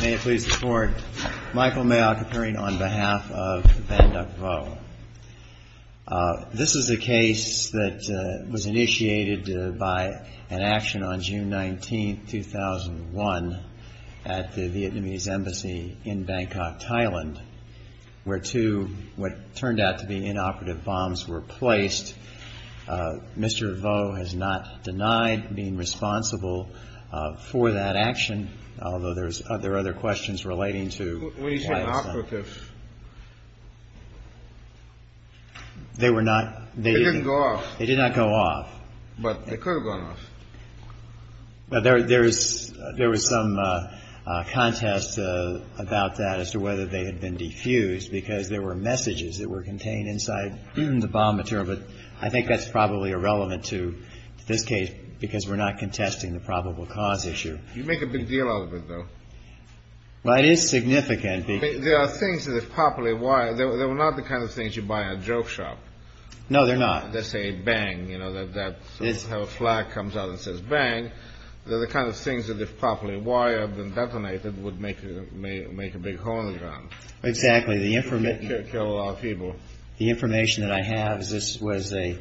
This is a case that was initiated by an action on June 19, 2001, at the Vietnamese embassy in Bangkok, Thailand, where two what turned out to be inoperative bombs were placed. Mr. Vo has not denied being responsible for that action, although there is evidence that he was involved in that action. There are other questions relating to why it was done. They didn't go off. They did not go off. But they could have gone off. There was some contest about that as to whether they had been defused, because there were messages that were contained inside the bomb material. But I think that's probably irrelevant to this case, because we're not contesting the probable cause issue. You make a big deal out of it, though. Well, it is significant. There are things that are properly wired. They were not the kind of things you buy at a joke shop. No, they're not. They say, bang. You know, that's how a flag comes out and says, bang. They're the kind of things that, if properly wired and detonated, would make a big hole in the ground. Exactly. Kill a lot of people. The information that I have is this was a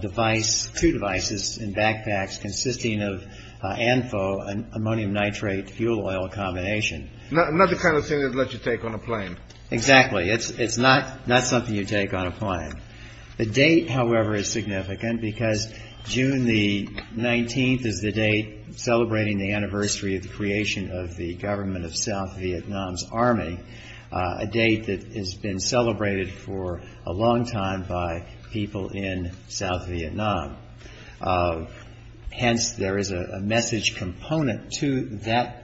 device, two devices in backpacks, consisting of ANFO, ammonium nitrate fuel oil, a combination. Not the kind of thing that lets you take on a plane. Exactly. It's not something you take on a plane. The date, however, is significant, because June the 19th is the date celebrating the anniversary of the creation of the government of South Vietnam's army, a date that has been celebrated for a long time by people in South Vietnam. Hence, there is a message component to that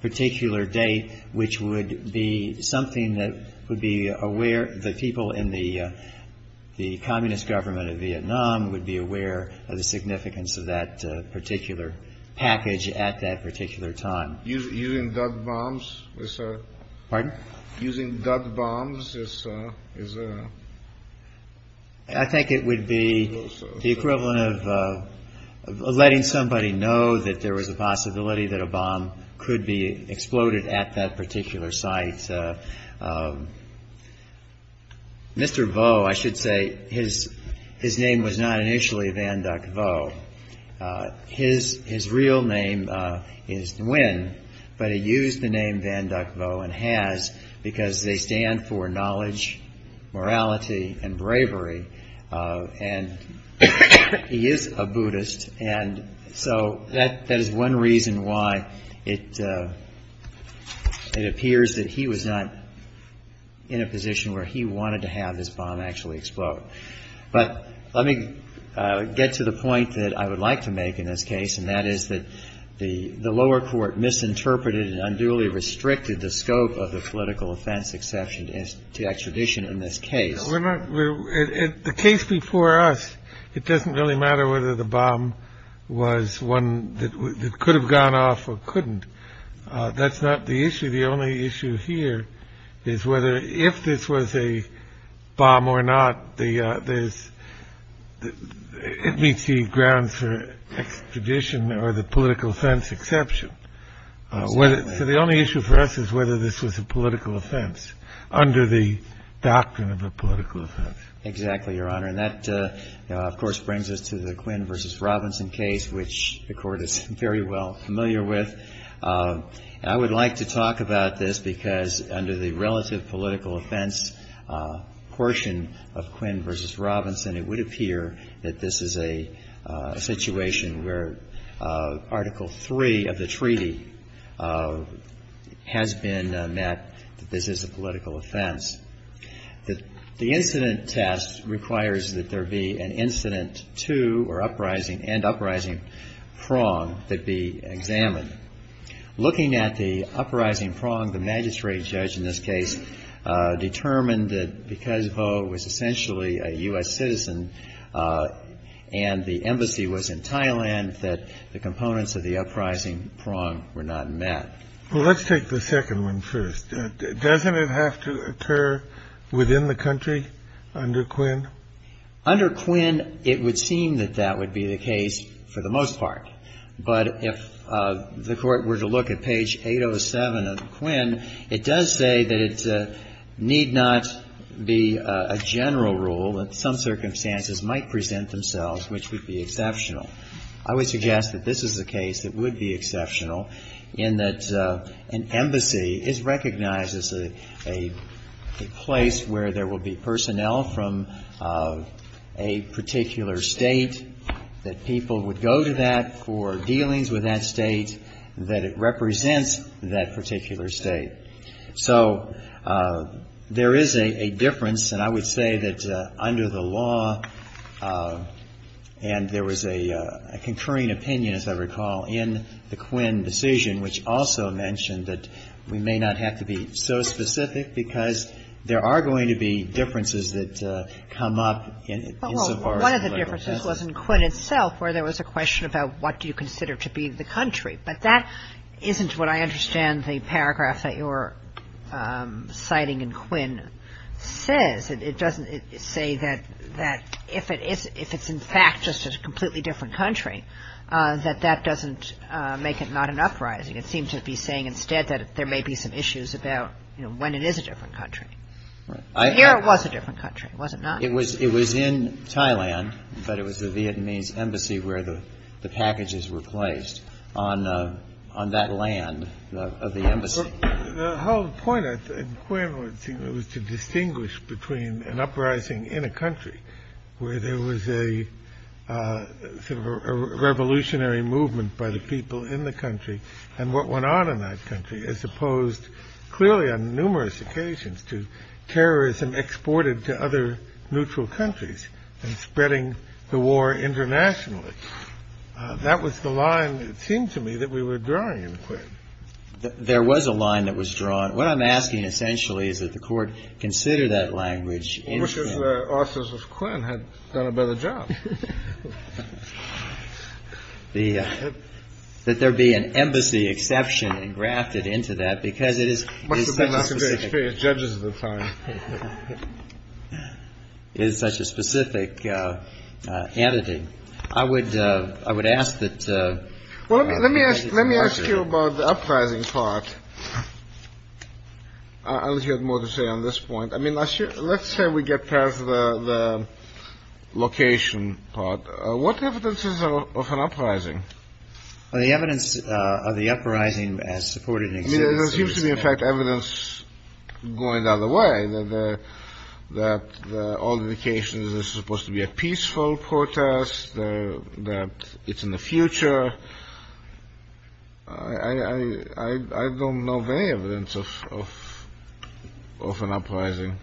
particular date, which would be something that would be aware. The people in the communist government of Vietnam would be aware of the significance of that particular package at that particular time. Using duck bombs is a. Pardon? Using duck bombs is a. I think it would be the equivalent of letting somebody know that there was a possibility that a bomb could be exploded at that particular site. Mr. Vo, I should say, his name was not initially VanDuck Vo. His real name is Nguyen, but he used the name VanDuck Vo and has because they stand for knowledge, morality and bravery. And he is a Buddhist. And so that is one reason why it appears that he was not in a position where he wanted to have this bomb actually explode. But let me get to the point that I would like to make in this case, and that is that the lower court misinterpreted and unduly restricted the scope of the political offense exception to extradition in this case. We're not the case before us. It doesn't really matter whether the bomb was one that could have gone off or couldn't. That's not the issue. The only issue here is whether if this was a bomb or not, it meets the grounds for extradition or the political offense exception. So the only issue for us is whether this was a political offense under the doctrine of a political offense. Exactly, Your Honor. And that, of course, brings us to the Quinn versus Robinson case, which the Court is very well familiar with. And I would like to talk about this because under the relative political offense portion of Quinn versus Robinson, it would appear that this is a situation where Article III of the treaty has been met, that this is a political offense. The incident test requires that there be an incident to or uprising and uprising prong that be examined. Looking at the uprising prong, the magistrate judge in this case determined that because Ho was essentially a U.S. citizen and the embassy was in Thailand, that the components of the uprising prong were not met. Well, let's take the second one first. Doesn't it have to occur within the country under Quinn? Under Quinn, it would seem that that would be the case for the most part. But if the Court were to look at page 807 of Quinn, it does say that it need not be a general rule, that some circumstances might present themselves which would be exceptional. I would suggest that this is a case that would be exceptional in that an embassy is recognized as a place where there will be personnel from a particular State, that people would go to that for dealings with that State, that it represents that particular State. So there is a difference. And I would say that under the law, and there was a concurring opinion, as I recall, in the Quinn decision which also mentioned that we may not have to be so specific because there are going to be differences that come up in so far as the legal process. Well, one of the differences was in Quinn itself where there was a question about what do you consider to be the country. But that isn't what I understand the paragraph that you're citing in Quinn says. It doesn't say that if it's in fact just a completely different country, that that doesn't make it not an uprising. It seems to be saying instead that there may be some issues about, you know, when it is a different country. Here it was a different country, was it not? It was in Thailand, but it was the Vietnamese embassy where the packages were placed on that land of the embassy. The whole point of Quinn was to distinguish between an uprising in a country where there was a revolutionary movement by the people in the country and what went on in that country as opposed clearly on numerous occasions to terrorism exported to other neutral countries and spreading the war internationally. That was the line, it seemed to me, that we were drawing in Quinn. There was a line that was drawn. What I'm asking essentially is that the Court consider that language in Quinn. Well, which is where officers of Quinn had done a better job. That there be an embassy exception engrafted into that because it is so specific. It is such a specific entity. I would ask that. Let me ask you about the uprising part. I'll hear more to say on this point. I mean, let's say we get past the location part. What evidence is of an uprising? The evidence of the uprising as supported in existence. I mean, there seems to be, in fact, evidence going the other way, that all the locations are supposed to be a peaceful protest, that it's in the future. I don't know of any evidence of an uprising.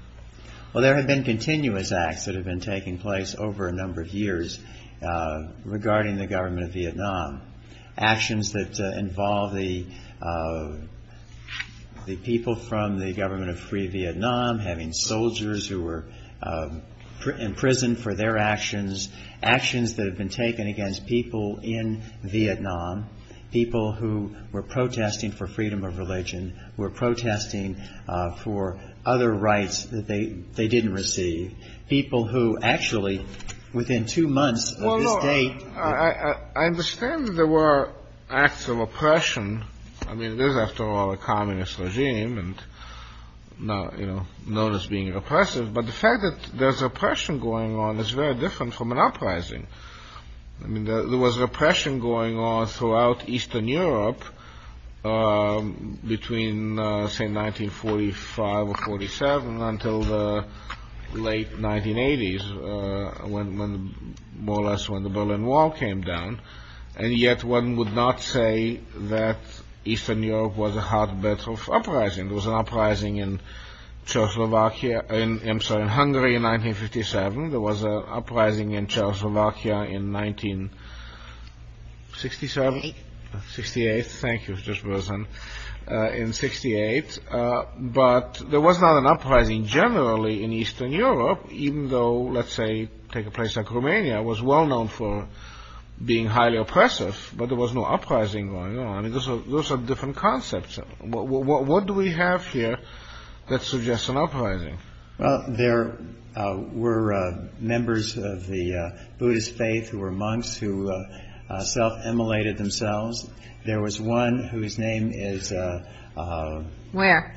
Well, there have been continuous acts that have been taking place over a number of years regarding the government of Vietnam, actions that involve the people from the government of Free Vietnam having soldiers who were imprisoned for their actions, actions that have been taken against people in Vietnam, people who were protesting for freedom of religion, were protesting for other rights that they didn't receive, people who actually, within two months of this date... Well, look, I understand that there were acts of oppression. I mean, there's, after all, a communist regime known as being oppressive, but the fact that there's oppression going on is very different from an uprising. I mean, there was oppression going on throughout Eastern Europe between, say, 1945 or 47 until the late 1980s, more or less when the Berlin Wall came down, and yet one would not say that Eastern Europe was a hotbed of uprising. There was an uprising in Hungary in 1957, there was an uprising in Czechoslovakia in 1968, thank you for this person, in 1968, but there was not an uprising generally in Eastern Europe, even though, let's say, take a place like Romania, it was well known for being highly oppressive, but there was no uprising going on. I mean, those are different concepts. What do we have here that suggests an uprising? Well, there were members of the Buddhist faith who were monks who self-immolated themselves. There was one whose name is... Where?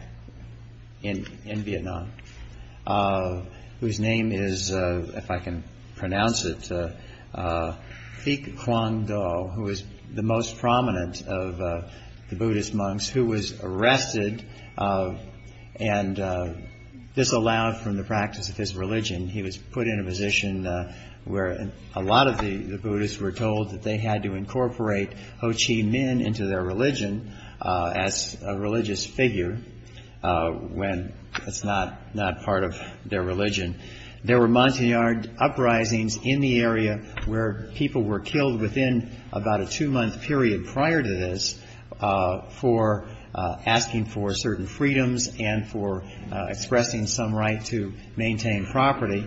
In Vietnam, whose name is, if I can pronounce it, Thich Quang Do, who is the most prominent of the Buddhist monks, who was arrested and disallowed from the practice of his religion. He was put in a position where a lot of the Buddhists were told that they had to incorporate Ho Chi Minh into their religion as a religious figure, when it's not part of their religion. There were Montagnard uprisings in the area where people were killed within about a two-month period prior to this for asking for certain freedoms and for expressing some right to maintain property.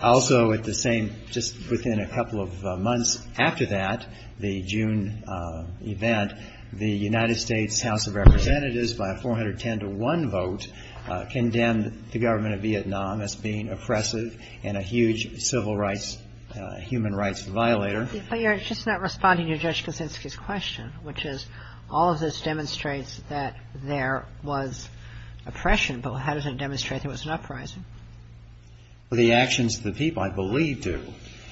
Also at the same, just within a couple of months after that, the June event, the United States House of Representatives, by a 410-to-1 vote, condemned the government of Vietnam as being oppressive and a huge civil rights, human rights violator. And I think it's a question we should have a discussion about. But you're just not responding to Judge Kaczynski's question, which is all of this demonstrates that there was oppression, but how does it demonstrate there was an uprising? Well, the actions of the people, I believe, do.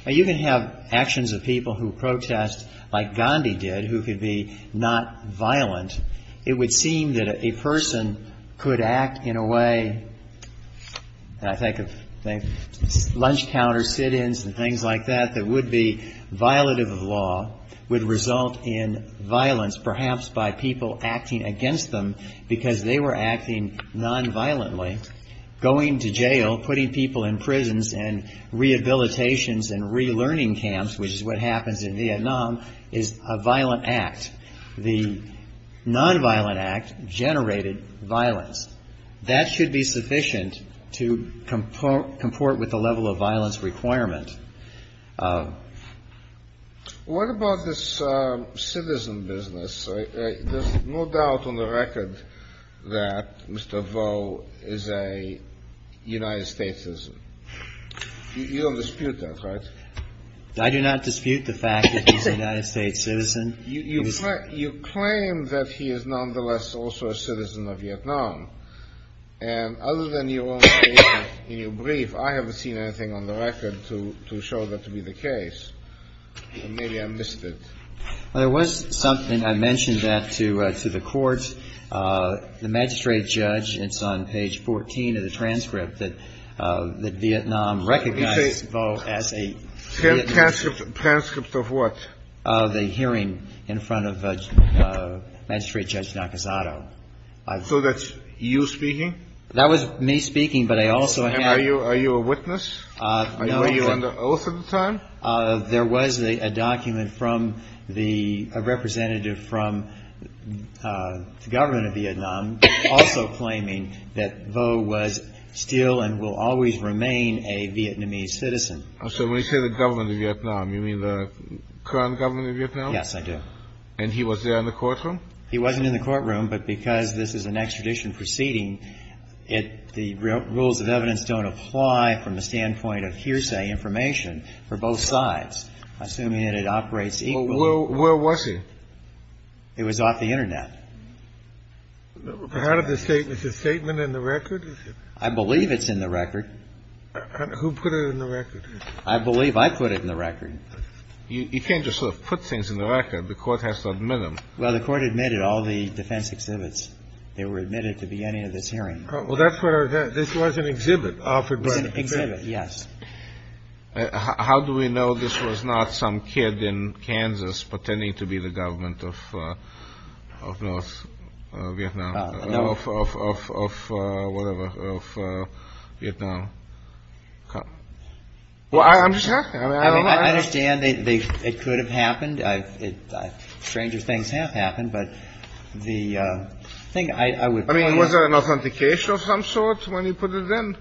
Now, you can have actions of people who protest, like Gandhi did, who could be not violent. It would seem that a person could act in a way, and I think of lunch counters, sit-ins and things like that, that would be violative of law, would result in violence, perhaps by people acting against them because they were acting nonviolently, going to jail, putting people in prisons and rehabilitations and relearning camps, which is what happens in Vietnam, is a violent act. The nonviolent act generated violence. That should be sufficient to comport with the level of violence requirement. What about this citizen business? There's no doubt on the record that Mr. Vo is a United States citizen. You don't dispute that, right? I do not dispute the fact that he's a United States citizen. You claim that he is nonetheless also a citizen of Vietnam, and other than your own statement in your brief, I haven't seen anything on the record to show that to be the case. Maybe I missed it. Well, there was something. I mentioned that to the Court. The magistrate judge, it's on page 14 of the transcript, that Vietnam recognized Vo as a Vietnamese citizen. Transcript of what? The hearing in front of Magistrate Judge Nakazato. So that's you speaking? That was me speaking, but I also had – Are you a witness? Were you on the oath at the time? There was a document from the – a representative from the government of Vietnam also claiming that Vo was still and will always remain a Vietnamese citizen. So when you say the government of Vietnam, you mean the current government of Vietnam? Yes, I do. And he was there in the courtroom? He wasn't in the courtroom, but because this is an extradition proceeding, the rules of evidence don't apply from the standpoint of hearsay information for both sides, assuming that it operates equally. Well, where was he? It was off the Internet. Is his statement in the record? I believe it's in the record. Who put it in the record? I believe I put it in the record. You can't just sort of put things in the record. The Court has to admit them. Well, the Court admitted all the defense exhibits. They were admitted at the beginning of this hearing. Well, that's what our – this was an exhibit offered by the exhibit. It was an exhibit, yes. How do we know this was not some kid in Kansas pretending to be the government of North Vietnam, of whatever, of Vietnam? Well, I understand. I mean, I understand it could have happened. Stranger things have happened. But the thing I would point out – I mean, was there an authentication of some sort when you put it in?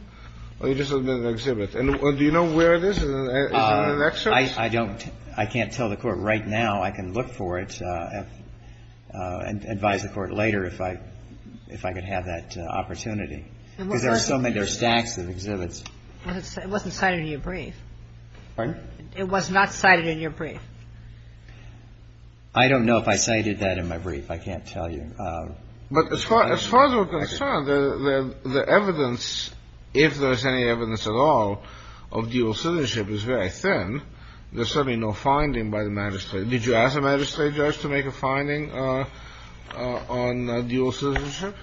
Or you just admitted an exhibit? And do you know where it is? Is it in an excerpt? I don't. I can't tell the Court right now. I can look for it and advise the Court later if I – if I could have that opportunity, because there are so many – there are stacks of exhibits. It wasn't cited in your brief. Pardon? It was not cited in your brief. I don't know if I cited that in my brief. I can't tell you. But as far as we're concerned, the evidence, if there's any evidence at all, of dual citizenship is very thin. There's certainly no finding by the magistrate. Did you ask a magistrate judge to make a finding on dual citizenship?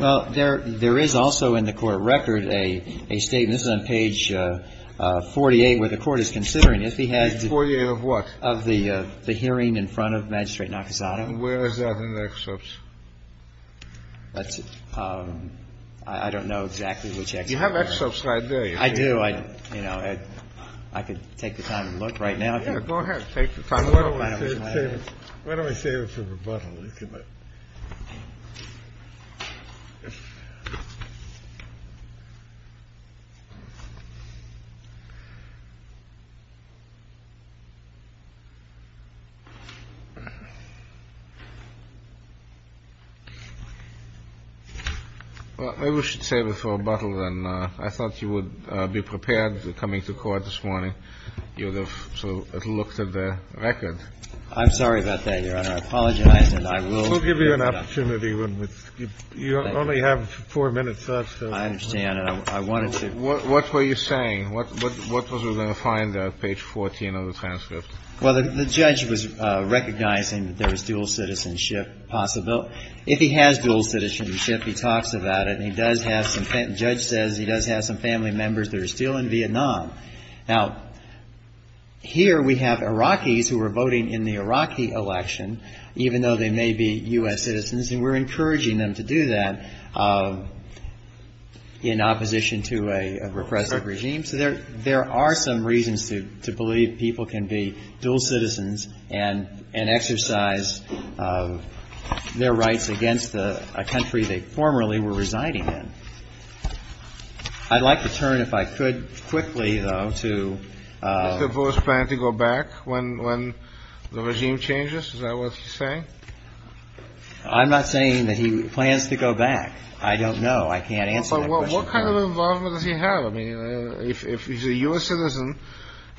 Well, there is also in the Court record a statement – this is on page 48 where the Court is considering. Page 48 of what? Of the hearing in front of Magistrate Nakasada. And where is that in the excerpts? That's – I don't know exactly which excerpt. You have excerpts right there. I do. You know, I could take the time and look right now. Yeah, go ahead. Take the time. Why don't we save it for rebuttal? Maybe we should save it for rebuttal then. I thought you would be prepared coming to court this morning. I'm sorry about that, Your Honor. I apologize. And I will give you an opportunity. You only have four minutes left. I understand. And I wanted to – What were you saying? What was there to find on page 14 of the transcript? Well, the judge was recognizing that there was dual citizenship possible. If he has dual citizenship, he talks about it, and he does have some – the judge says he does have some family members that are still in Vietnam. Now, here we have Iraqis who are voting in the Iraqi election, even though they may be U.S. citizens, and we're encouraging them to do that in opposition to a repressive regime. So there are some reasons to believe people can be dual citizens and exercise their rights against a country they formerly were residing in. I'd like to turn, if I could, quickly, though, to – Does the voice plan to go back when the regime changes? Is that what he's saying? I'm not saying that he plans to go back. I don't know. I can't answer that question. Well, what kind of involvement does he have? I mean, if he's a U.S. citizen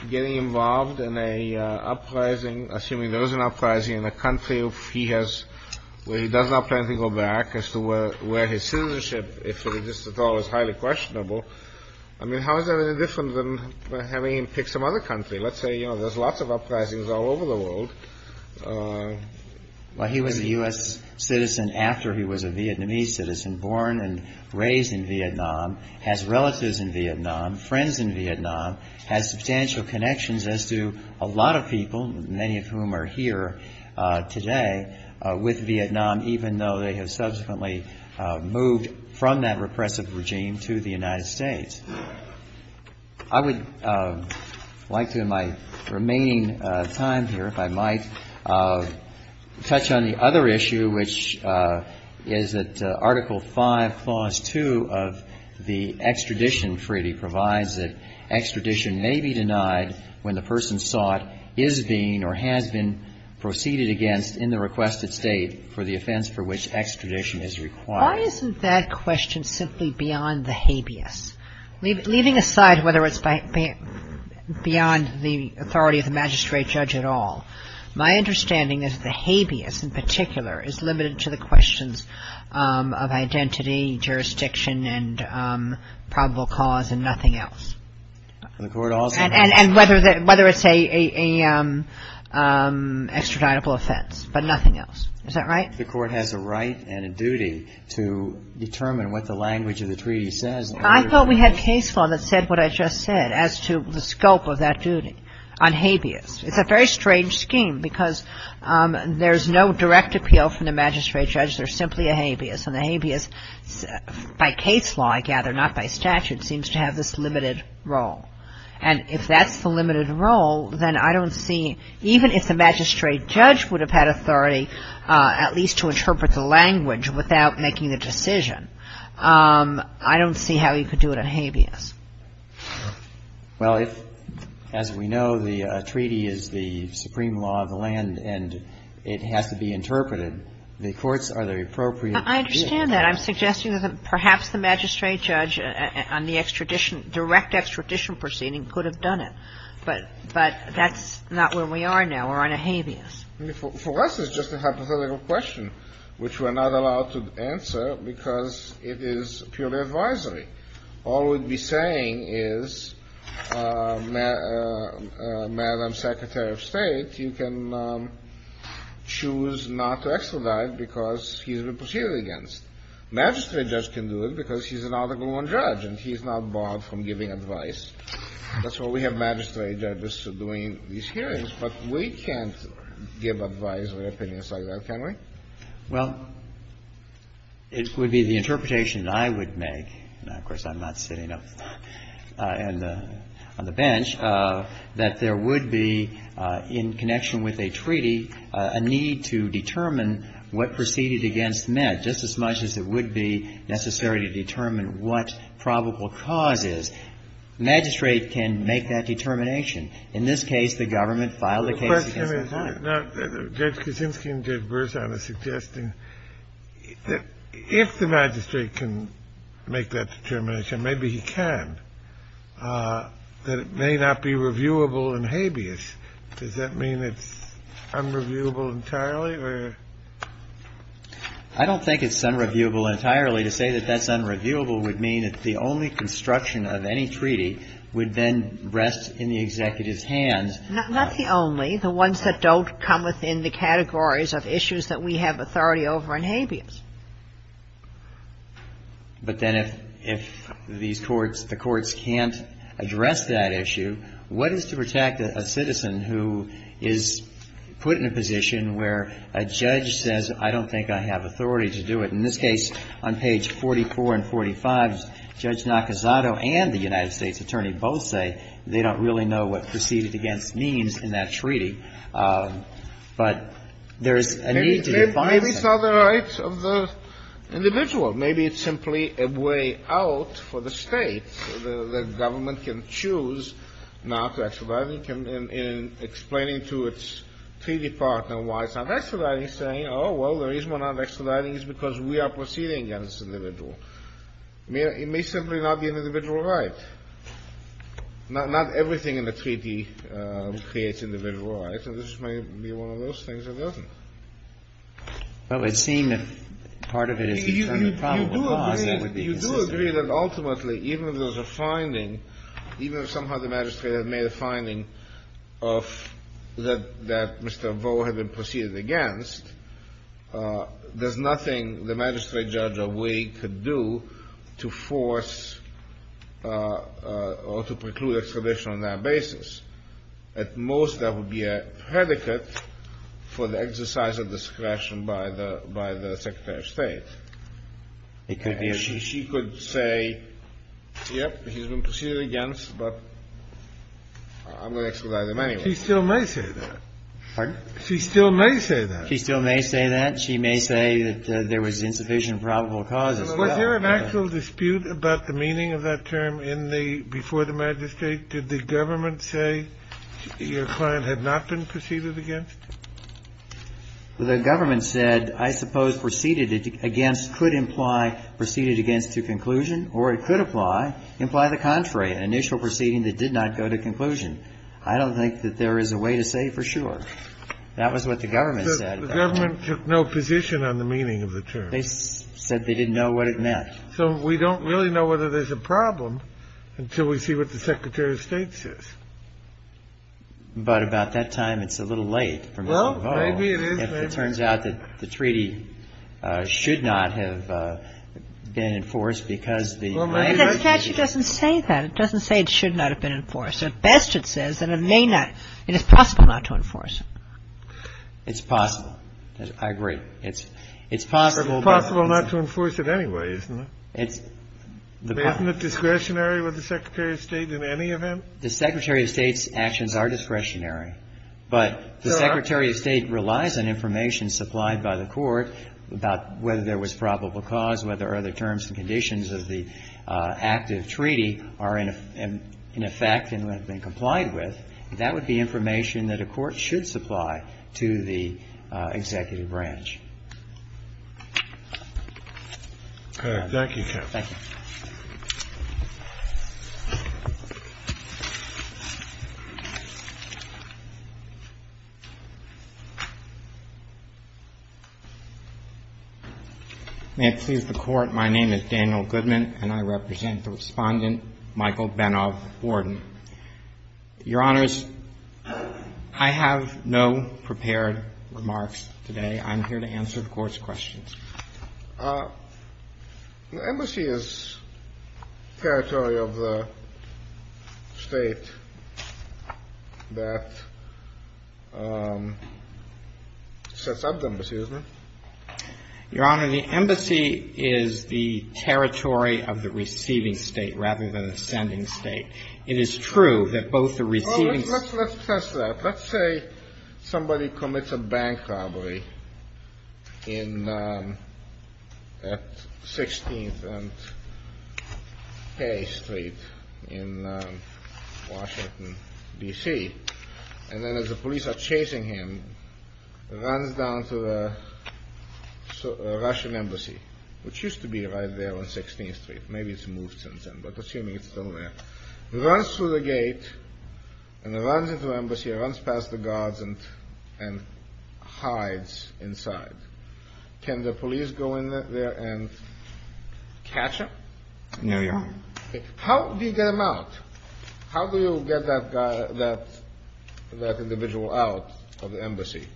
getting involved in an uprising – assuming there is an uprising in a country where he does not plan to go back, as to where his citizenship, if it exists at all, is highly questionable, I mean, how is that any different than having him pick some other country? Let's say, you know, there's lots of uprisings all over the world. Well, he was a U.S. citizen after he was a Vietnamese citizen, born and raised in Vietnam, has relatives in Vietnam, friends in Vietnam, has substantial connections as do a lot of people, many of whom are here today, with Vietnam, even though they have subsequently moved from that repressive regime to the United States. I would like to, in my remaining time here, if I might, touch on the other issue, which is that Article V, Clause 2 of the extradition treaty provides that extradition may be denied when the person sought is being or has been proceeded against in the requested state for the offense for which extradition is required. Why isn't that question simply beyond the habeas? Leaving aside whether it's beyond the authority of the magistrate judge at all, my understanding is the habeas in particular is limited to the questions of identity, jurisdiction, and probable cause, and nothing else. And whether it's an extraditable offense, but nothing else. Is that right? The Court has a right and a duty to determine what the language of the treaty says. I thought we had case law that said what I just said as to the scope of that duty on habeas. It's a very strange scheme because there's no direct appeal from the magistrate judge. There's simply a habeas. And the habeas, by case law, I gather, not by statute, seems to have this limited role. And if that's the limited role, then I don't see, even if the magistrate judge would have had authority at least to interpret the language without making the decision, I don't see how he could do it on habeas. Well, if, as we know, the treaty is the supreme law of the land and it has to be interpreted, then the courts are the appropriate. I understand that. I'm suggesting that perhaps the magistrate judge on the extradition, direct extradition proceeding, could have done it. But that's not where we are now. We're on a habeas. For us, it's just a hypothetical question which we're not allowed to answer because it is purely advisory. All we'd be saying is, Madam Secretary of State, you can choose not to extradite because he's been proceeded against. Magistrate judge can do it because he's an Article I judge and he's not barred from giving advice. That's why we have magistrate judges doing these hearings. But we can't give advisory opinions like that, can we? Well, it would be the interpretation that I would make, and, of course, I'm not sitting up on the bench, that there would be, in connection with a treaty, a need to determine what proceeded against Med, just as much as it would be necessary to determine what probable cause is. Magistrate can make that determination. In this case, the government filed a case against Med. case because it does not have the careful determination they need in this case. Yeah. Now, judge Kuczynski and judge Berzonna are suggesting that if the magistrate can make that determination, maybe he can, that it may not be reviewable and habeas. Does that mean it's unreviewable entirely, or? I don't think it's unreviewable entirely. To say that that's unreviewable would mean that the only construction of any treaty would then rest in the executive's hands. Not the only. The ones that don't come within the categories of issues that we have authority over and habeas. But then if these courts, the courts can't address that issue, what is to protect a citizen who is put in a position where a judge says, I don't think I have authority to do it. In this case, on page 44 and 45, Judge Nakazato and the United States attorney both say they don't really know what proceeded against means in that treaty. But there's a need to define that. Maybe it's not the right of the individual. Maybe it's simply a way out for the States, so the government can choose not to expedite in explaining to its treaty partner why it's not expediting, saying, oh, well, the reason we're not expediting is because we are proceeding against the individual. It may simply not be an individual right. Not everything in the treaty creates individual rights, and this may be one of those things it doesn't. But it would seem if part of it is determined probable cause, that would be consistent. You do agree that ultimately, even if there's a finding, even if somehow the magistrate has made a finding of that Mr. Voe had been proceeded against, there's nothing the magistrate judge or we could do to force or to preclude expedition on that basis. At most, that would be a predicate for the exercise of discretion by the Secretary of State. It could be that she could say, yep, he's been proceeded against, but I'm going to expedite him anyway. She still may say that. She still may say that. She still may say that. She may say that there was insufficient probable cause. Was there an actual dispute about the meaning of that term in the before the magistrate? Did the government say your client had not been proceeded against? The government said, I suppose, proceeded against could imply proceeded against to conclusion, or it could apply, imply the contrary, an initial proceeding that did not go to conclusion. I don't think that there is a way to say for sure. That was what the government said. The government took no position on the meaning of the term. They said they didn't know what it meant. So we don't really know whether there's a problem until we see what the Secretary of State says. But about that time, it's a little late for Mr. Boe if it turns out that the treaty should not have been enforced because the statute doesn't say that. It doesn't say it should not have been enforced. At best, it says that it may not. It is possible not to enforce it. It's possible. I agree. It's possible. It's possible not to enforce it anyway, isn't it? Isn't it discretionary with the Secretary of State in any event? The Secretary of State's actions are discretionary, but the Secretary of State relies on information supplied by the Court about whether there was probable cause, whether other terms and conditions of the active treaty are in effect and have been complied with, that would be information that a court should supply to the executive branch. Thank you, counsel. Thank you. May it please the Court, my name is Daniel Goodman, and I represent the Respondent, Michael Benov-Borden. Your Honors, I have no prepared remarks today. I'm here to answer any questions you may have. I'm here to answer the Court's questions. The Embassy is territory of the State that sets up the Embassy, isn't it? Your Honor, the Embassy is the territory of the receiving State rather than the sending State. It is true that both the receiving State and the receiving State are the same territory. Well, let's test that. Let's say somebody commits a bank robbery at 16th and K Street in Washington, D.C., and then as the police are chasing him, runs down to the Russian Embassy, which used to be right there on 16th Street. Maybe it's moved since then, but assuming it's still there. Runs through the gate and runs into the Embassy, runs past the guards and hides inside. Can the police go in there and catch him? No, Your Honor. How do you get him out? How do you get that guy, that individual out of the Embassy?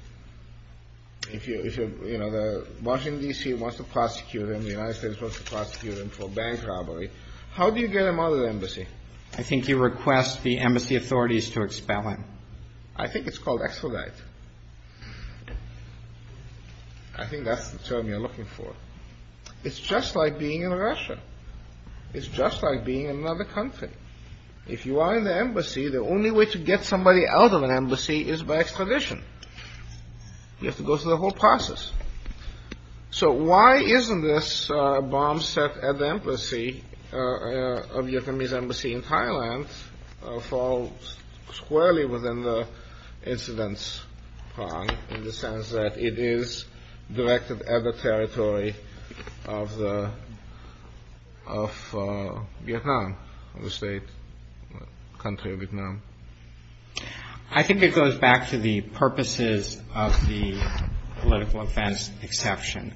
If you're, you know, the Washington, D.C. wants to prosecute him, the United States wants to prosecute him for a bank robbery. How do you get him out of the Embassy? I think you request the Embassy authorities to expel him. I think it's called extradite. I think that's the term you're looking for. It's just like being in Russia. It's just like being in another country. If you are in the Embassy, the only way to get somebody out of an Embassy is by extradition. You have to go through the whole process. So why isn't this bomb set at the Embassy, of Vietnamese Embassy in Thailand, fall squarely within the incidents in the sense that it is directed at the territory of Vietnam, I think it goes back to the purposes of the political offense exception.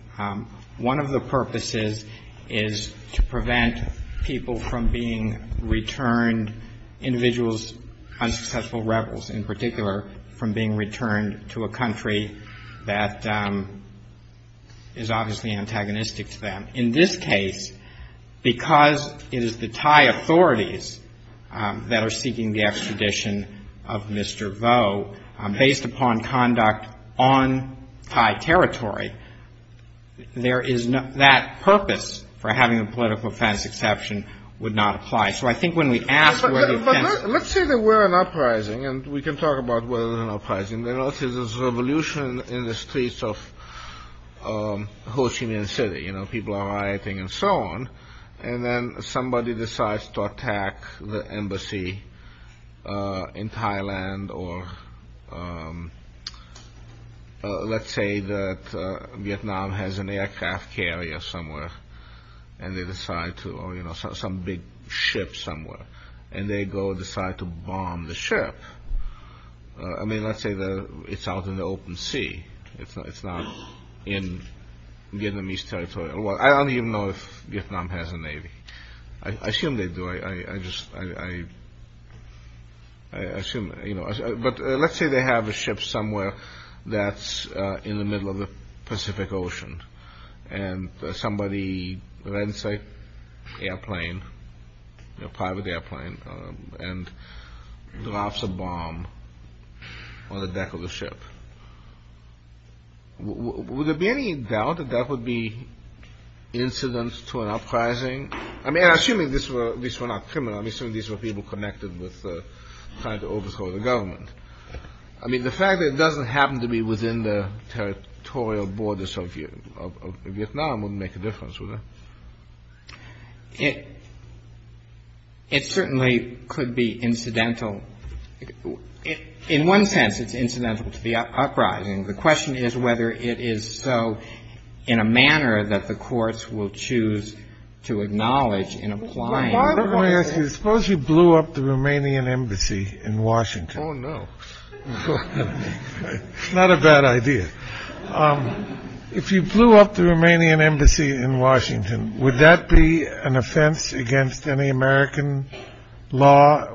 One of the purposes is to prevent people from being returned, individuals, unsuccessful rebels in particular, from being returned to a country that is obviously antagonistic to them. In this case, because it is the Thai authorities that are seeking the extradition of Mr. Vo, based upon conduct on Thai territory, that purpose for having a political offense exception would not apply. So I think when we ask where the offense… But let's say there were an uprising, and we can talk about whether there was an uprising. There was a revolution in the streets of Ho Chi Minh City. People are rioting and so on. And then somebody decides to attack the Embassy in Thailand, or let's say that Vietnam has an aircraft carrier somewhere, or some big ship somewhere. And they go decide to bomb the ship. I mean, let's say it's out in the open sea. It's not in Vietnamese territory. Well, I don't even know if Vietnam has a navy. I assume they do. I just… I assume… But let's say they have a ship somewhere that's in the middle of the Pacific Ocean. And somebody, let's say, airplane, a private airplane, and drops a bomb on the deck of the ship. Would there be any doubt that that would be incident to an uprising? I mean, I'm assuming these were not criminals. I'm assuming these were people connected with trying to overthrow the government. I mean, the fact that it doesn't happen to be within the territorial borders of Vietnam wouldn't make a difference, would it? It certainly could be incidental. In one sense, it's incidental to the uprising. The question is whether it is so in a manner that the courts will choose to acknowledge in applying… Suppose you blew up the Romanian embassy in Washington. Oh, no. It's not a bad idea. If you blew up the Romanian embassy in Washington, would that be an offense against any American law?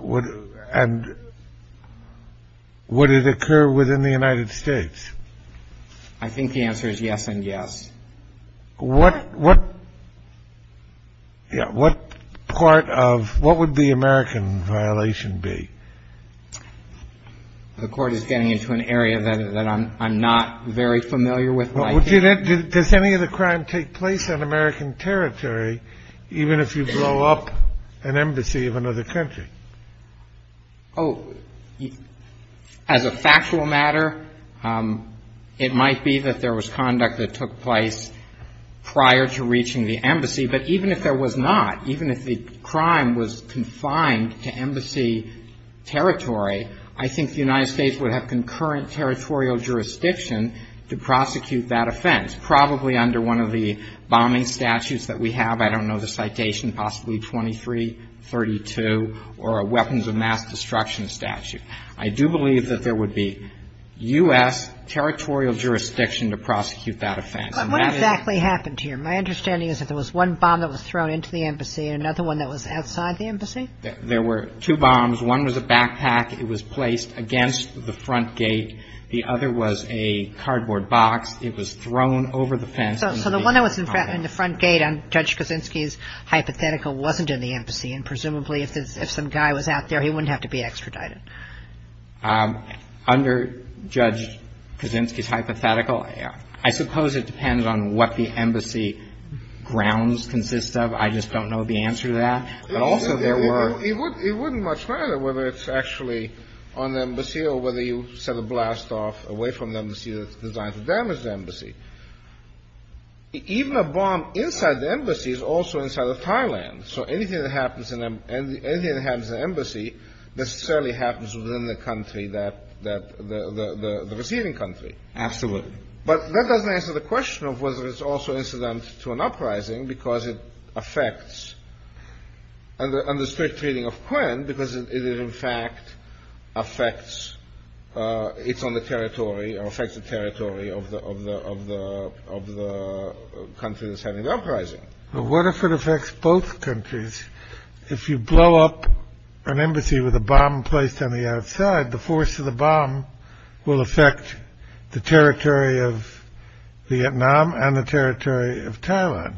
And would it occur within the United States? I think the answer is yes and yes. What part of what would the American violation be? The court is getting into an area that I'm not very familiar with. Does any of the crime take place on American territory, even if you blow up an embassy of another country? Oh, as a factual matter, it might be that there was conduct that took place prior to reaching the embassy. But even if there was not, even if the crime was confined to embassy territory, I think the United States would have concurrent territorial jurisdiction to prosecute that offense, probably under one of the bombing statutes that we have. I don't know the citation, possibly 2332 or a weapons of mass destruction statute. I do believe that there would be U.S. territorial jurisdiction to prosecute that offense. But what exactly happened here? My understanding is that there was one bomb that was thrown into the embassy and another one that was outside the embassy? There were two bombs. One was a backpack. It was placed against the front gate. The other was a cardboard box. It was thrown over the fence. So the one that was in the front gate under Judge Kaczynski's hypothetical wasn't in the embassy, and presumably if some guy was out there, he wouldn't have to be extradited. Under Judge Kaczynski's hypothetical, I suppose it depends on what the embassy grounds consist of. I just don't know the answer to that. But also there were – It wouldn't much matter whether it's actually on the embassy or whether you set a blast off away from the embassy that's designed to damage the embassy. Even a bomb inside the embassy is also inside of Thailand. So anything that happens in the embassy necessarily happens within the country, the receiving country. Absolutely. But that doesn't answer the question of whether it's also incident to an uprising because it affects and the strict treating of Quynh because it in fact affects – it's on the territory or affects the territory of the country that's having the uprising. But what if it affects both countries? If you blow up an embassy with a bomb placed on the outside, the force of the bomb will affect the territory of Vietnam and the territory of Thailand.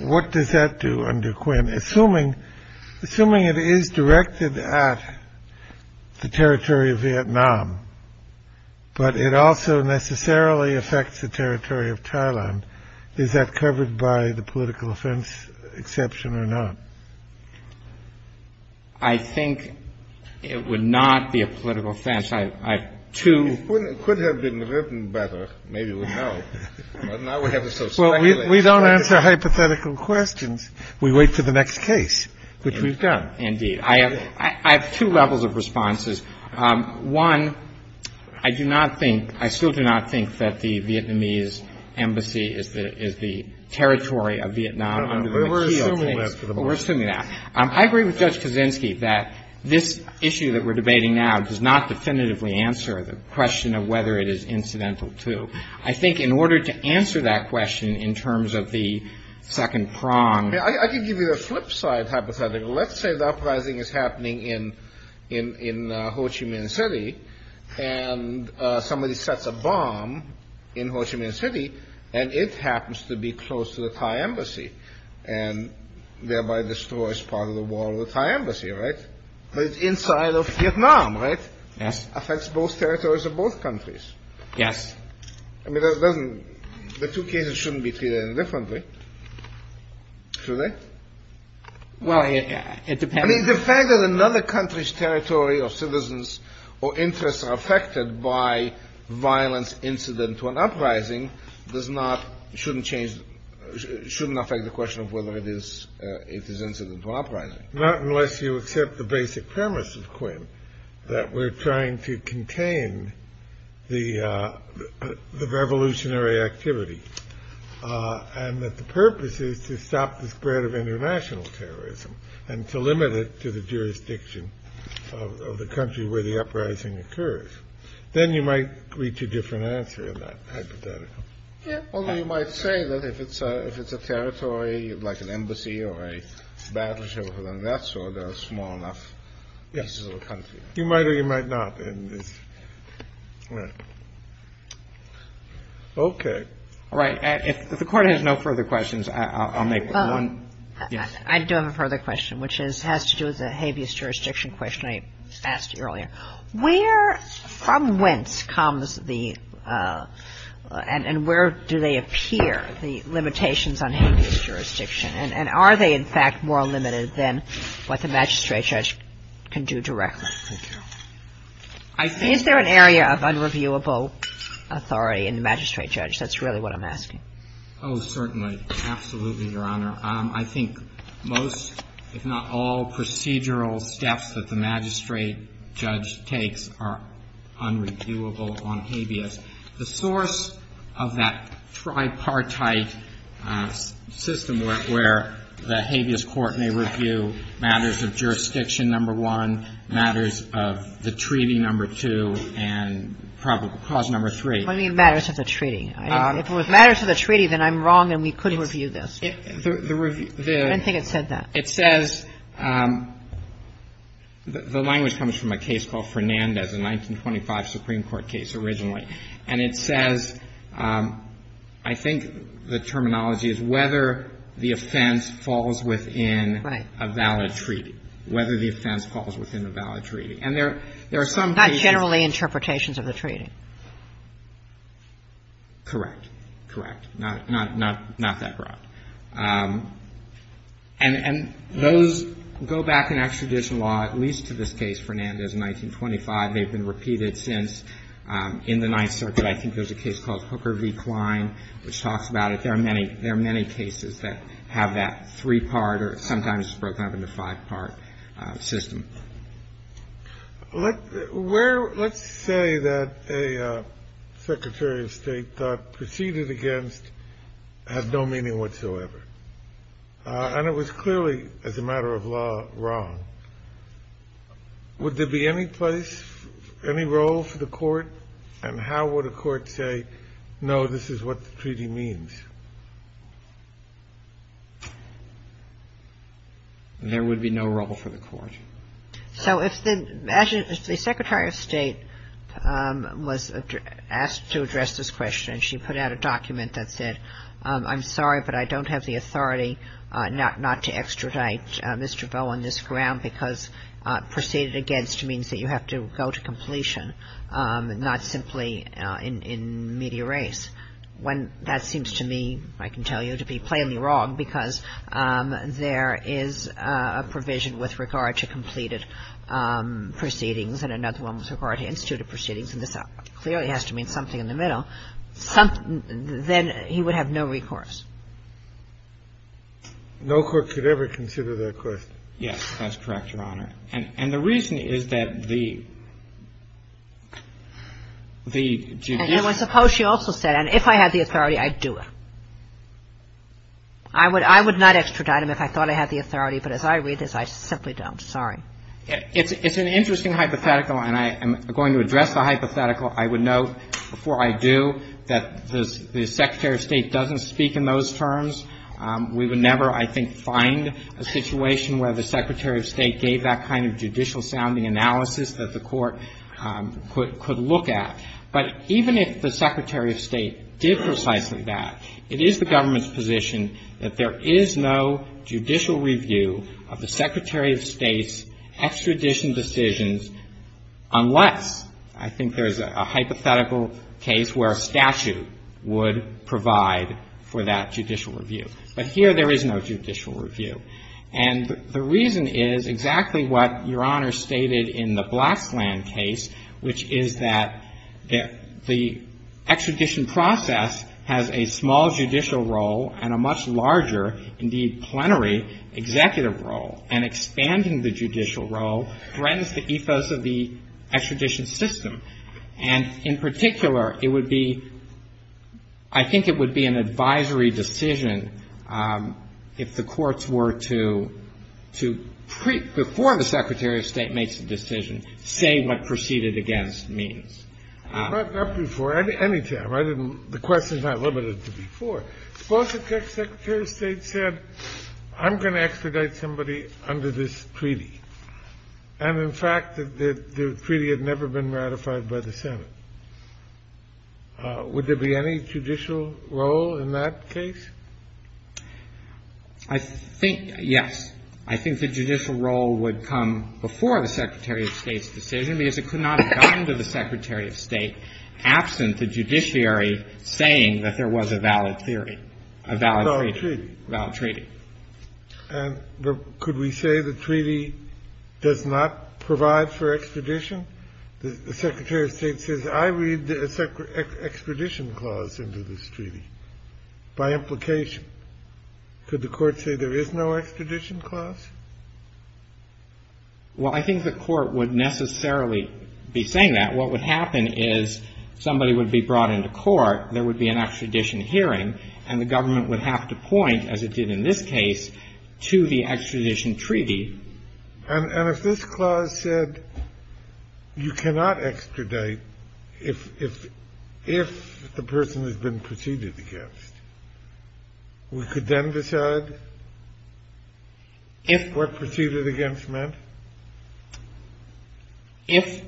What does that do under Quynh? Assuming it is directed at the territory of Vietnam, but it also necessarily affects the territory of Thailand, is that covered by the political offense exception or not? I think it would not be a political offense. I have two – It could have been written better. Maybe we don't know. Well, we don't answer hypothetical questions. We wait for the next case, which we've done. Indeed. I have two levels of responses. One, I do not think – I still do not think that the Vietnamese embassy is the territory of Vietnam. We're assuming that for the moment. We're assuming that. I agree with Judge Kaczynski that this issue that we're debating now does not definitively answer the question of whether it is incidental to. I think in order to answer that question in terms of the second prong – I can give you the flip side hypothetical. Let's say the uprising is happening in Ho Chi Minh City and somebody sets a bomb in Ho Chi Minh City and it happens to be close to the Thai embassy and thereby destroys part of the wall of the Thai embassy, right? But it's inside of Vietnam, right? Yes. It affects both territories of both countries. Yes. I mean, the two cases shouldn't be treated any differently, should they? Well, it depends. I mean, the fact that another country's territory or citizens or interests are affected by violence incident to an uprising does not – shouldn't change – shouldn't affect the question of whether it is incidental to an uprising. Not unless you accept the basic premise of Quinn, that we're trying to contain the revolutionary activity and that the purpose is to stop the spread of international terrorism and to limit it to the jurisdiction of the country where the uprising occurs. Then you might reach a different answer in that hypothetical. Although you might say that if it's a territory like an embassy or a battleship or something of that sort, there are small enough pieces of the country. Yes. You might or you might not. All right. Okay. All right. If the Court has no further questions, I'll make one. I do have a further question, which has to do with the habeas jurisdiction question I asked earlier. Where from whence comes the – and where do they appear, the limitations on habeas jurisdiction? And are they, in fact, more limited than what the magistrate judge can do directly? Thank you. Is there an area of unreviewable authority in the magistrate judge? That's really what I'm asking. Oh, certainly. Absolutely, Your Honor. I think most, if not all, procedural steps that the magistrate judge takes are unreviewable on habeas. The source of that tripartite system where the habeas court may review matters of jurisdiction, number one, matters of the treaty, number two, and probable cause, number three. What do you mean matters of the treaty? If it was matters of the treaty, then I'm wrong and we couldn't review this. The review – I don't think it said that. It says – the language comes from a case called Fernandez, a 1925 Supreme Court case originally. And it says – I think the terminology is whether the offense falls within a valid treaty. Whether the offense falls within a valid treaty. And there are some cases – Not generally interpretations of the treaty. Correct. Correct. Not that broad. And those go back in extradition law, at least to this case, Fernandez, 1925. They've been repeated since. In the Ninth Circuit, I think there's a case called Hooker v. Klein, which talks about it. There are many cases that have that three-part or sometimes it's broken up into five-part system. Let's say that a Secretary of State thought proceeded against has no meaning whatsoever. And it was clearly, as a matter of law, wrong. Would there be any place, any role for the Court? And how would a Court say, no, this is what the treaty means? There would be no role for the Court. So if the – imagine if the Secretary of State was asked to address this question and she put out a document that said, I'm sorry, but I don't have the authority not to extradite Mr. Vo on this ground because proceeded against means that you have to go to completion, not simply in media race. When that seems to me, I can tell you, to be plainly wrong because there is a provision with regard to completed proceedings and another one with regard to instituted proceedings, and this clearly has to mean something in the middle, then he would have no recourse. No Court could ever consider that question. Yes. That's correct, Your Honor. And the reason is that the – the judicial – And I suppose she also said, and if I had the authority, I'd do it. I would not extradite him if I thought I had the authority, but as I read this, I simply don't. Sorry. It's an interesting hypothetical, and I am going to address the hypothetical. I would note before I do that the Secretary of State doesn't speak in those terms. We would never, I think, find a situation where the Secretary of State gave that kind of judicial-sounding analysis that the Court could look at. But even if the Secretary of State did precisely that, it is the government's position that there is no judicial review of the Secretary of State's extradition decisions unless, I think there's a hypothetical case where a statute would provide for that judicial review. But here there is no judicial review. And the reason is exactly what Your Honor stated in the Blacksland case, which is that the extradition process has a small judicial role and a much larger, indeed plenary, executive role. And expanding the judicial role threatens the ethos of the extradition system. And in particular, it would be, I think it would be an advisory decision if the courts were to, before the Secretary of State makes a decision, say what proceeded against means. Not before. Any time. The question is not limited to before. Suppose the Secretary of State said, I'm going to extradite somebody under this treaty. And in fact, the treaty had never been ratified by the Senate. Would there be any judicial role in that case? I think, yes. I think the judicial role would come before the Secretary of State's decision because it could not have gotten to the Secretary of State absent the judiciary saying that there was a valid theory, a valid treaty. Valid treaty. Valid treaty. And could we say the treaty does not provide for extradition? The Secretary of State says, I read the extradition clause into this treaty. By implication. Could the Court say there is no extradition clause? Well, I think the Court would necessarily be saying that. What would happen is somebody would be brought into court, there would be an extradition hearing, and the government would have to point, as it did in this case, to the extradition treaty. And if this clause said you cannot extradite if the person has been preceded against, we could then decide what preceded against meant? If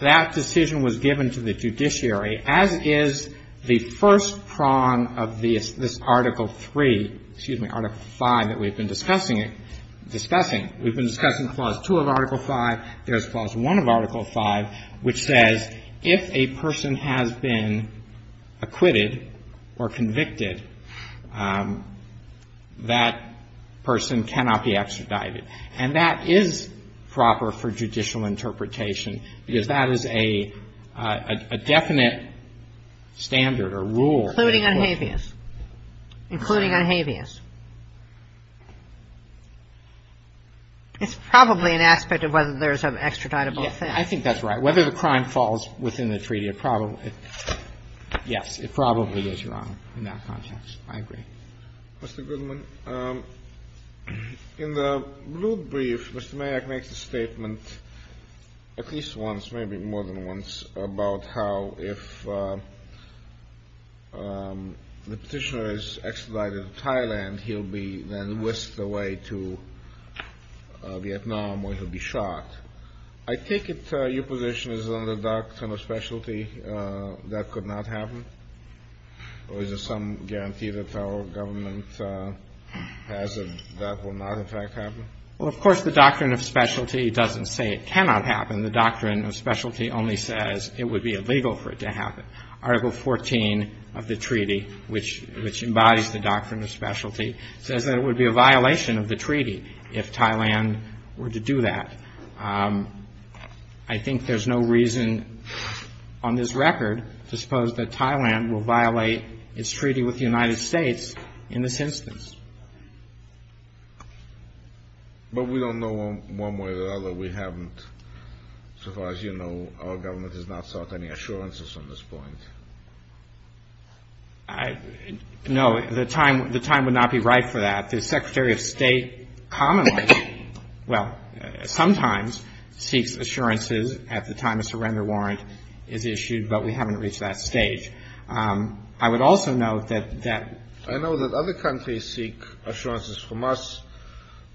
that decision was given to the judiciary, as is the first prong of this Article 3, excuse me, Article 5 that we've been discussing, we've been discussing Clause 2 of Article 5, there's Clause 1 of Article 5, which says if a person has been acquitted or convicted, that person cannot be extradited. And that is proper for judicial interpretation, because that is a definite standard or rule. Including unhabeas. Including unhabeas. It's probably an aspect of whether there's an extraditable offense. I think that's right. Whether the crime falls within the treaty, it probably does. Yes, it probably does, Your Honor, in that context. I agree. Mr. Goodman, in the rude brief, Mr. Mayock makes a statement at least once, maybe more than once, about how if the petitioner is extradited to Thailand, he'll be then whisked away to Vietnam, or he'll be shot. I take it your position is under the doctrine of specialty that could not happen? Or is there some guarantee that our government has that that will not, in fact, happen? Well, of course, the doctrine of specialty doesn't say it cannot happen. The doctrine of specialty only says it would be illegal for it to happen. Article 14 of the treaty, which embodies the doctrine of specialty, says that it would be a violation of the treaty if Thailand were to do that. I think there's no reason on this record to suppose that Thailand will violate its treaty with the United States in this instance. But we don't know one way or the other. We haven't, so far as you know, our government has not sought any assurances on this point. No, the time would not be right for that. The Secretary of State commonly, well, sometimes seeks assurances at the time a surrender warrant is issued, but we haven't reached that stage. I know that other countries seek assurances from us,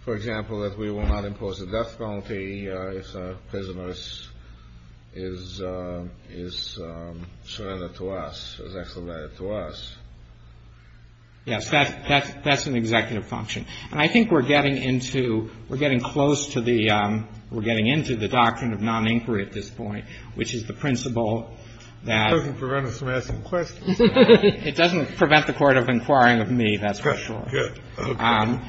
for example, that we will not impose a death penalty if a prisoner is surrendered to us, is extradited to us. Yes, that's an executive function. And I think we're getting into, we're getting close to the, we're getting into the doctrine of non-inquiry at this point, which is the principle that. It doesn't prevent us from asking questions. It doesn't prevent the Court of inquiring of me, that's for sure. Good. Okay.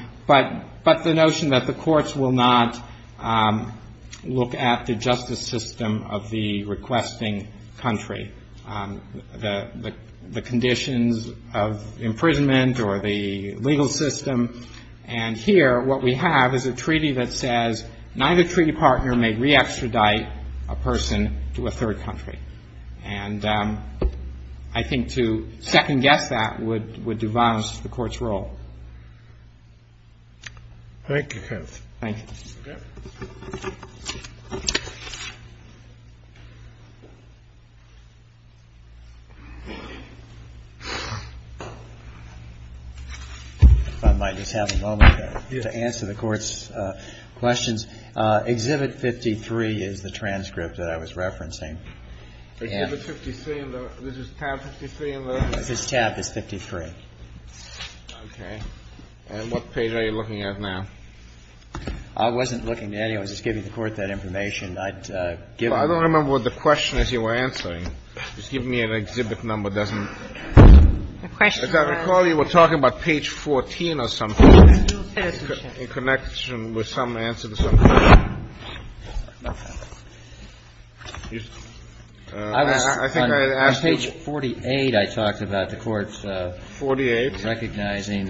But the notion that the courts will not look at the justice system of the requesting country, the conditions of imprisonment or the legal system, and here what we have is a treaty that says neither treaty partner may re-extradite a person to a third country. And I think to second-guess that would devalue the Court's role. Thank you, counsel. Thank you. Okay. If I might just have a moment to answer the Court's questions. Exhibit 53 is the transcript that I was referencing. Exhibit 53, this is tab 53? This tab is 53. Okay. And what page are you looking at now? I wasn't looking at anyone. I was just giving the Court that information. I'd given it to you. Well, I don't remember what the question is you were answering. Just give me an exhibit number that doesn't ---- The question was ---- As I recall, you were talking about page 14 or something, in connection with some answer to some question. I was ---- I think I asked you ---- On page 48, I talked about the Court's ---- 48. ----recognizing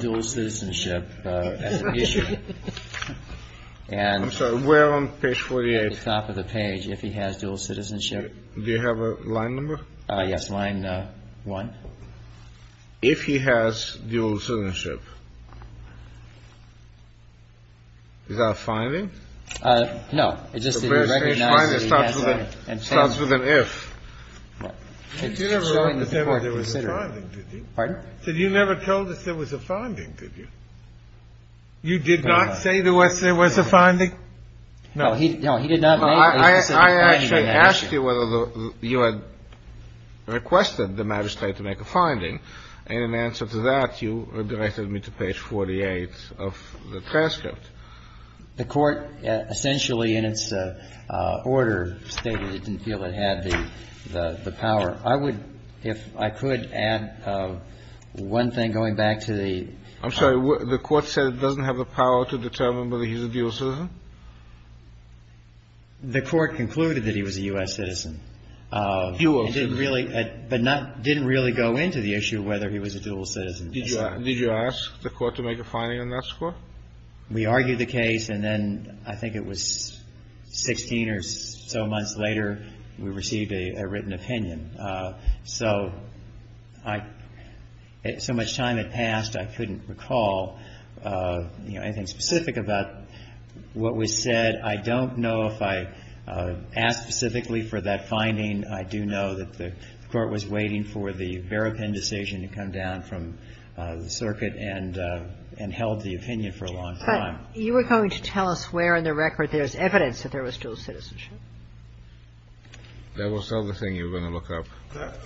dual citizenship as an issue. And ---- I'm sorry. Where on page 48? At the top of the page, if he has dual citizenship. Do you have a line number? Yes. Line 1. If he has dual citizenship. Is that a finding? No. It just didn't recognize that he has dual citizenship. It starts with an if. You never wrote that there was a finding, did you? Pardon? You never told us there was a finding, did you? You did not say to us there was a finding? No. No, he did not make it. I actually asked you whether you had requested the magistrate to make a finding, and in answer to that, you directed me to page 48 of the transcript. The Court essentially in its order stated it didn't feel it had the power. I would, if I could, add one thing going back to the ---- I'm sorry. The Court said it doesn't have the power to determine whether he's a dual citizen? The Court concluded that he was a U.S. citizen. He was. But didn't really go into the issue of whether he was a dual citizen. Did you ask the Court to make a finding on that score? We argued the case, and then I think it was 16 or so months later we received a written opinion. So much time had passed, I couldn't recall anything specific about what was said. I don't know if I asked specifically for that finding. I do know that the Court was waiting for the Barapin decision to come down from the circuit and held the opinion for a long time. But you were going to tell us where in the record there's evidence that there was dual citizenship. That was the other thing you were going to look up.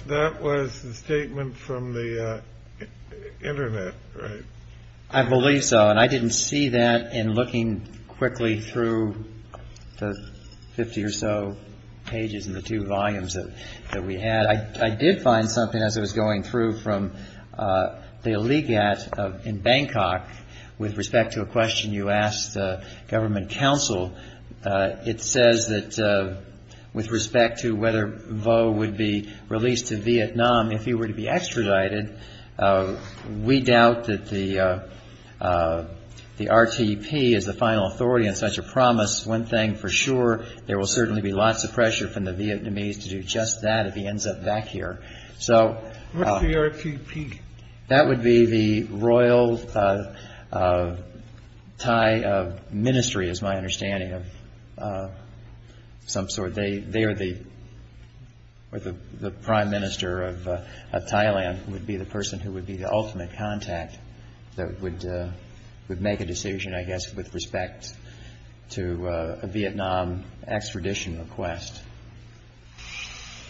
That was the statement from the Internet, right? I believe so. And I didn't see that in looking quickly through the 50 or so pages and the two volumes that we had. I did find something as I was going through from the Ligat in Bangkok with respect to a question you asked the government counsel. It says that with respect to whether Vo would be released to Vietnam if he were to be extradited, we doubt that the RTP is the final authority on such a promise. One thing for sure, there will certainly be lots of pressure from the Vietnamese to do just that if he ends up back here. What's the RTP? That would be the Royal Thai Ministry is my understanding of some sort. They are the prime minister of Thailand would be the person who would be the ultimate contact that would make a decision, I guess, with respect to a Vietnam extradition request.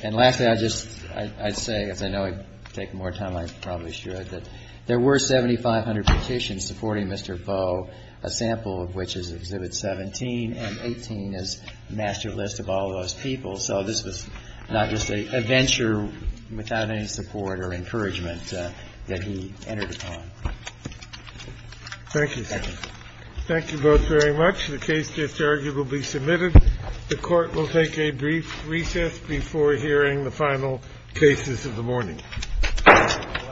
And lastly, I'd say, as I know I'd take more time, I probably should, that there were 7,500 petitions supporting Mr. Vo, a sample of which is Exhibit 17 and 18 is a master list of all those people. So this was not just a venture without any support or encouragement that he entered upon. Thank you. Thank you. Thank you both very much. The case is arguably submitted. The Court will take a brief recess before hearing the final cases of the morning. Thank you very much. The Court stands in recess.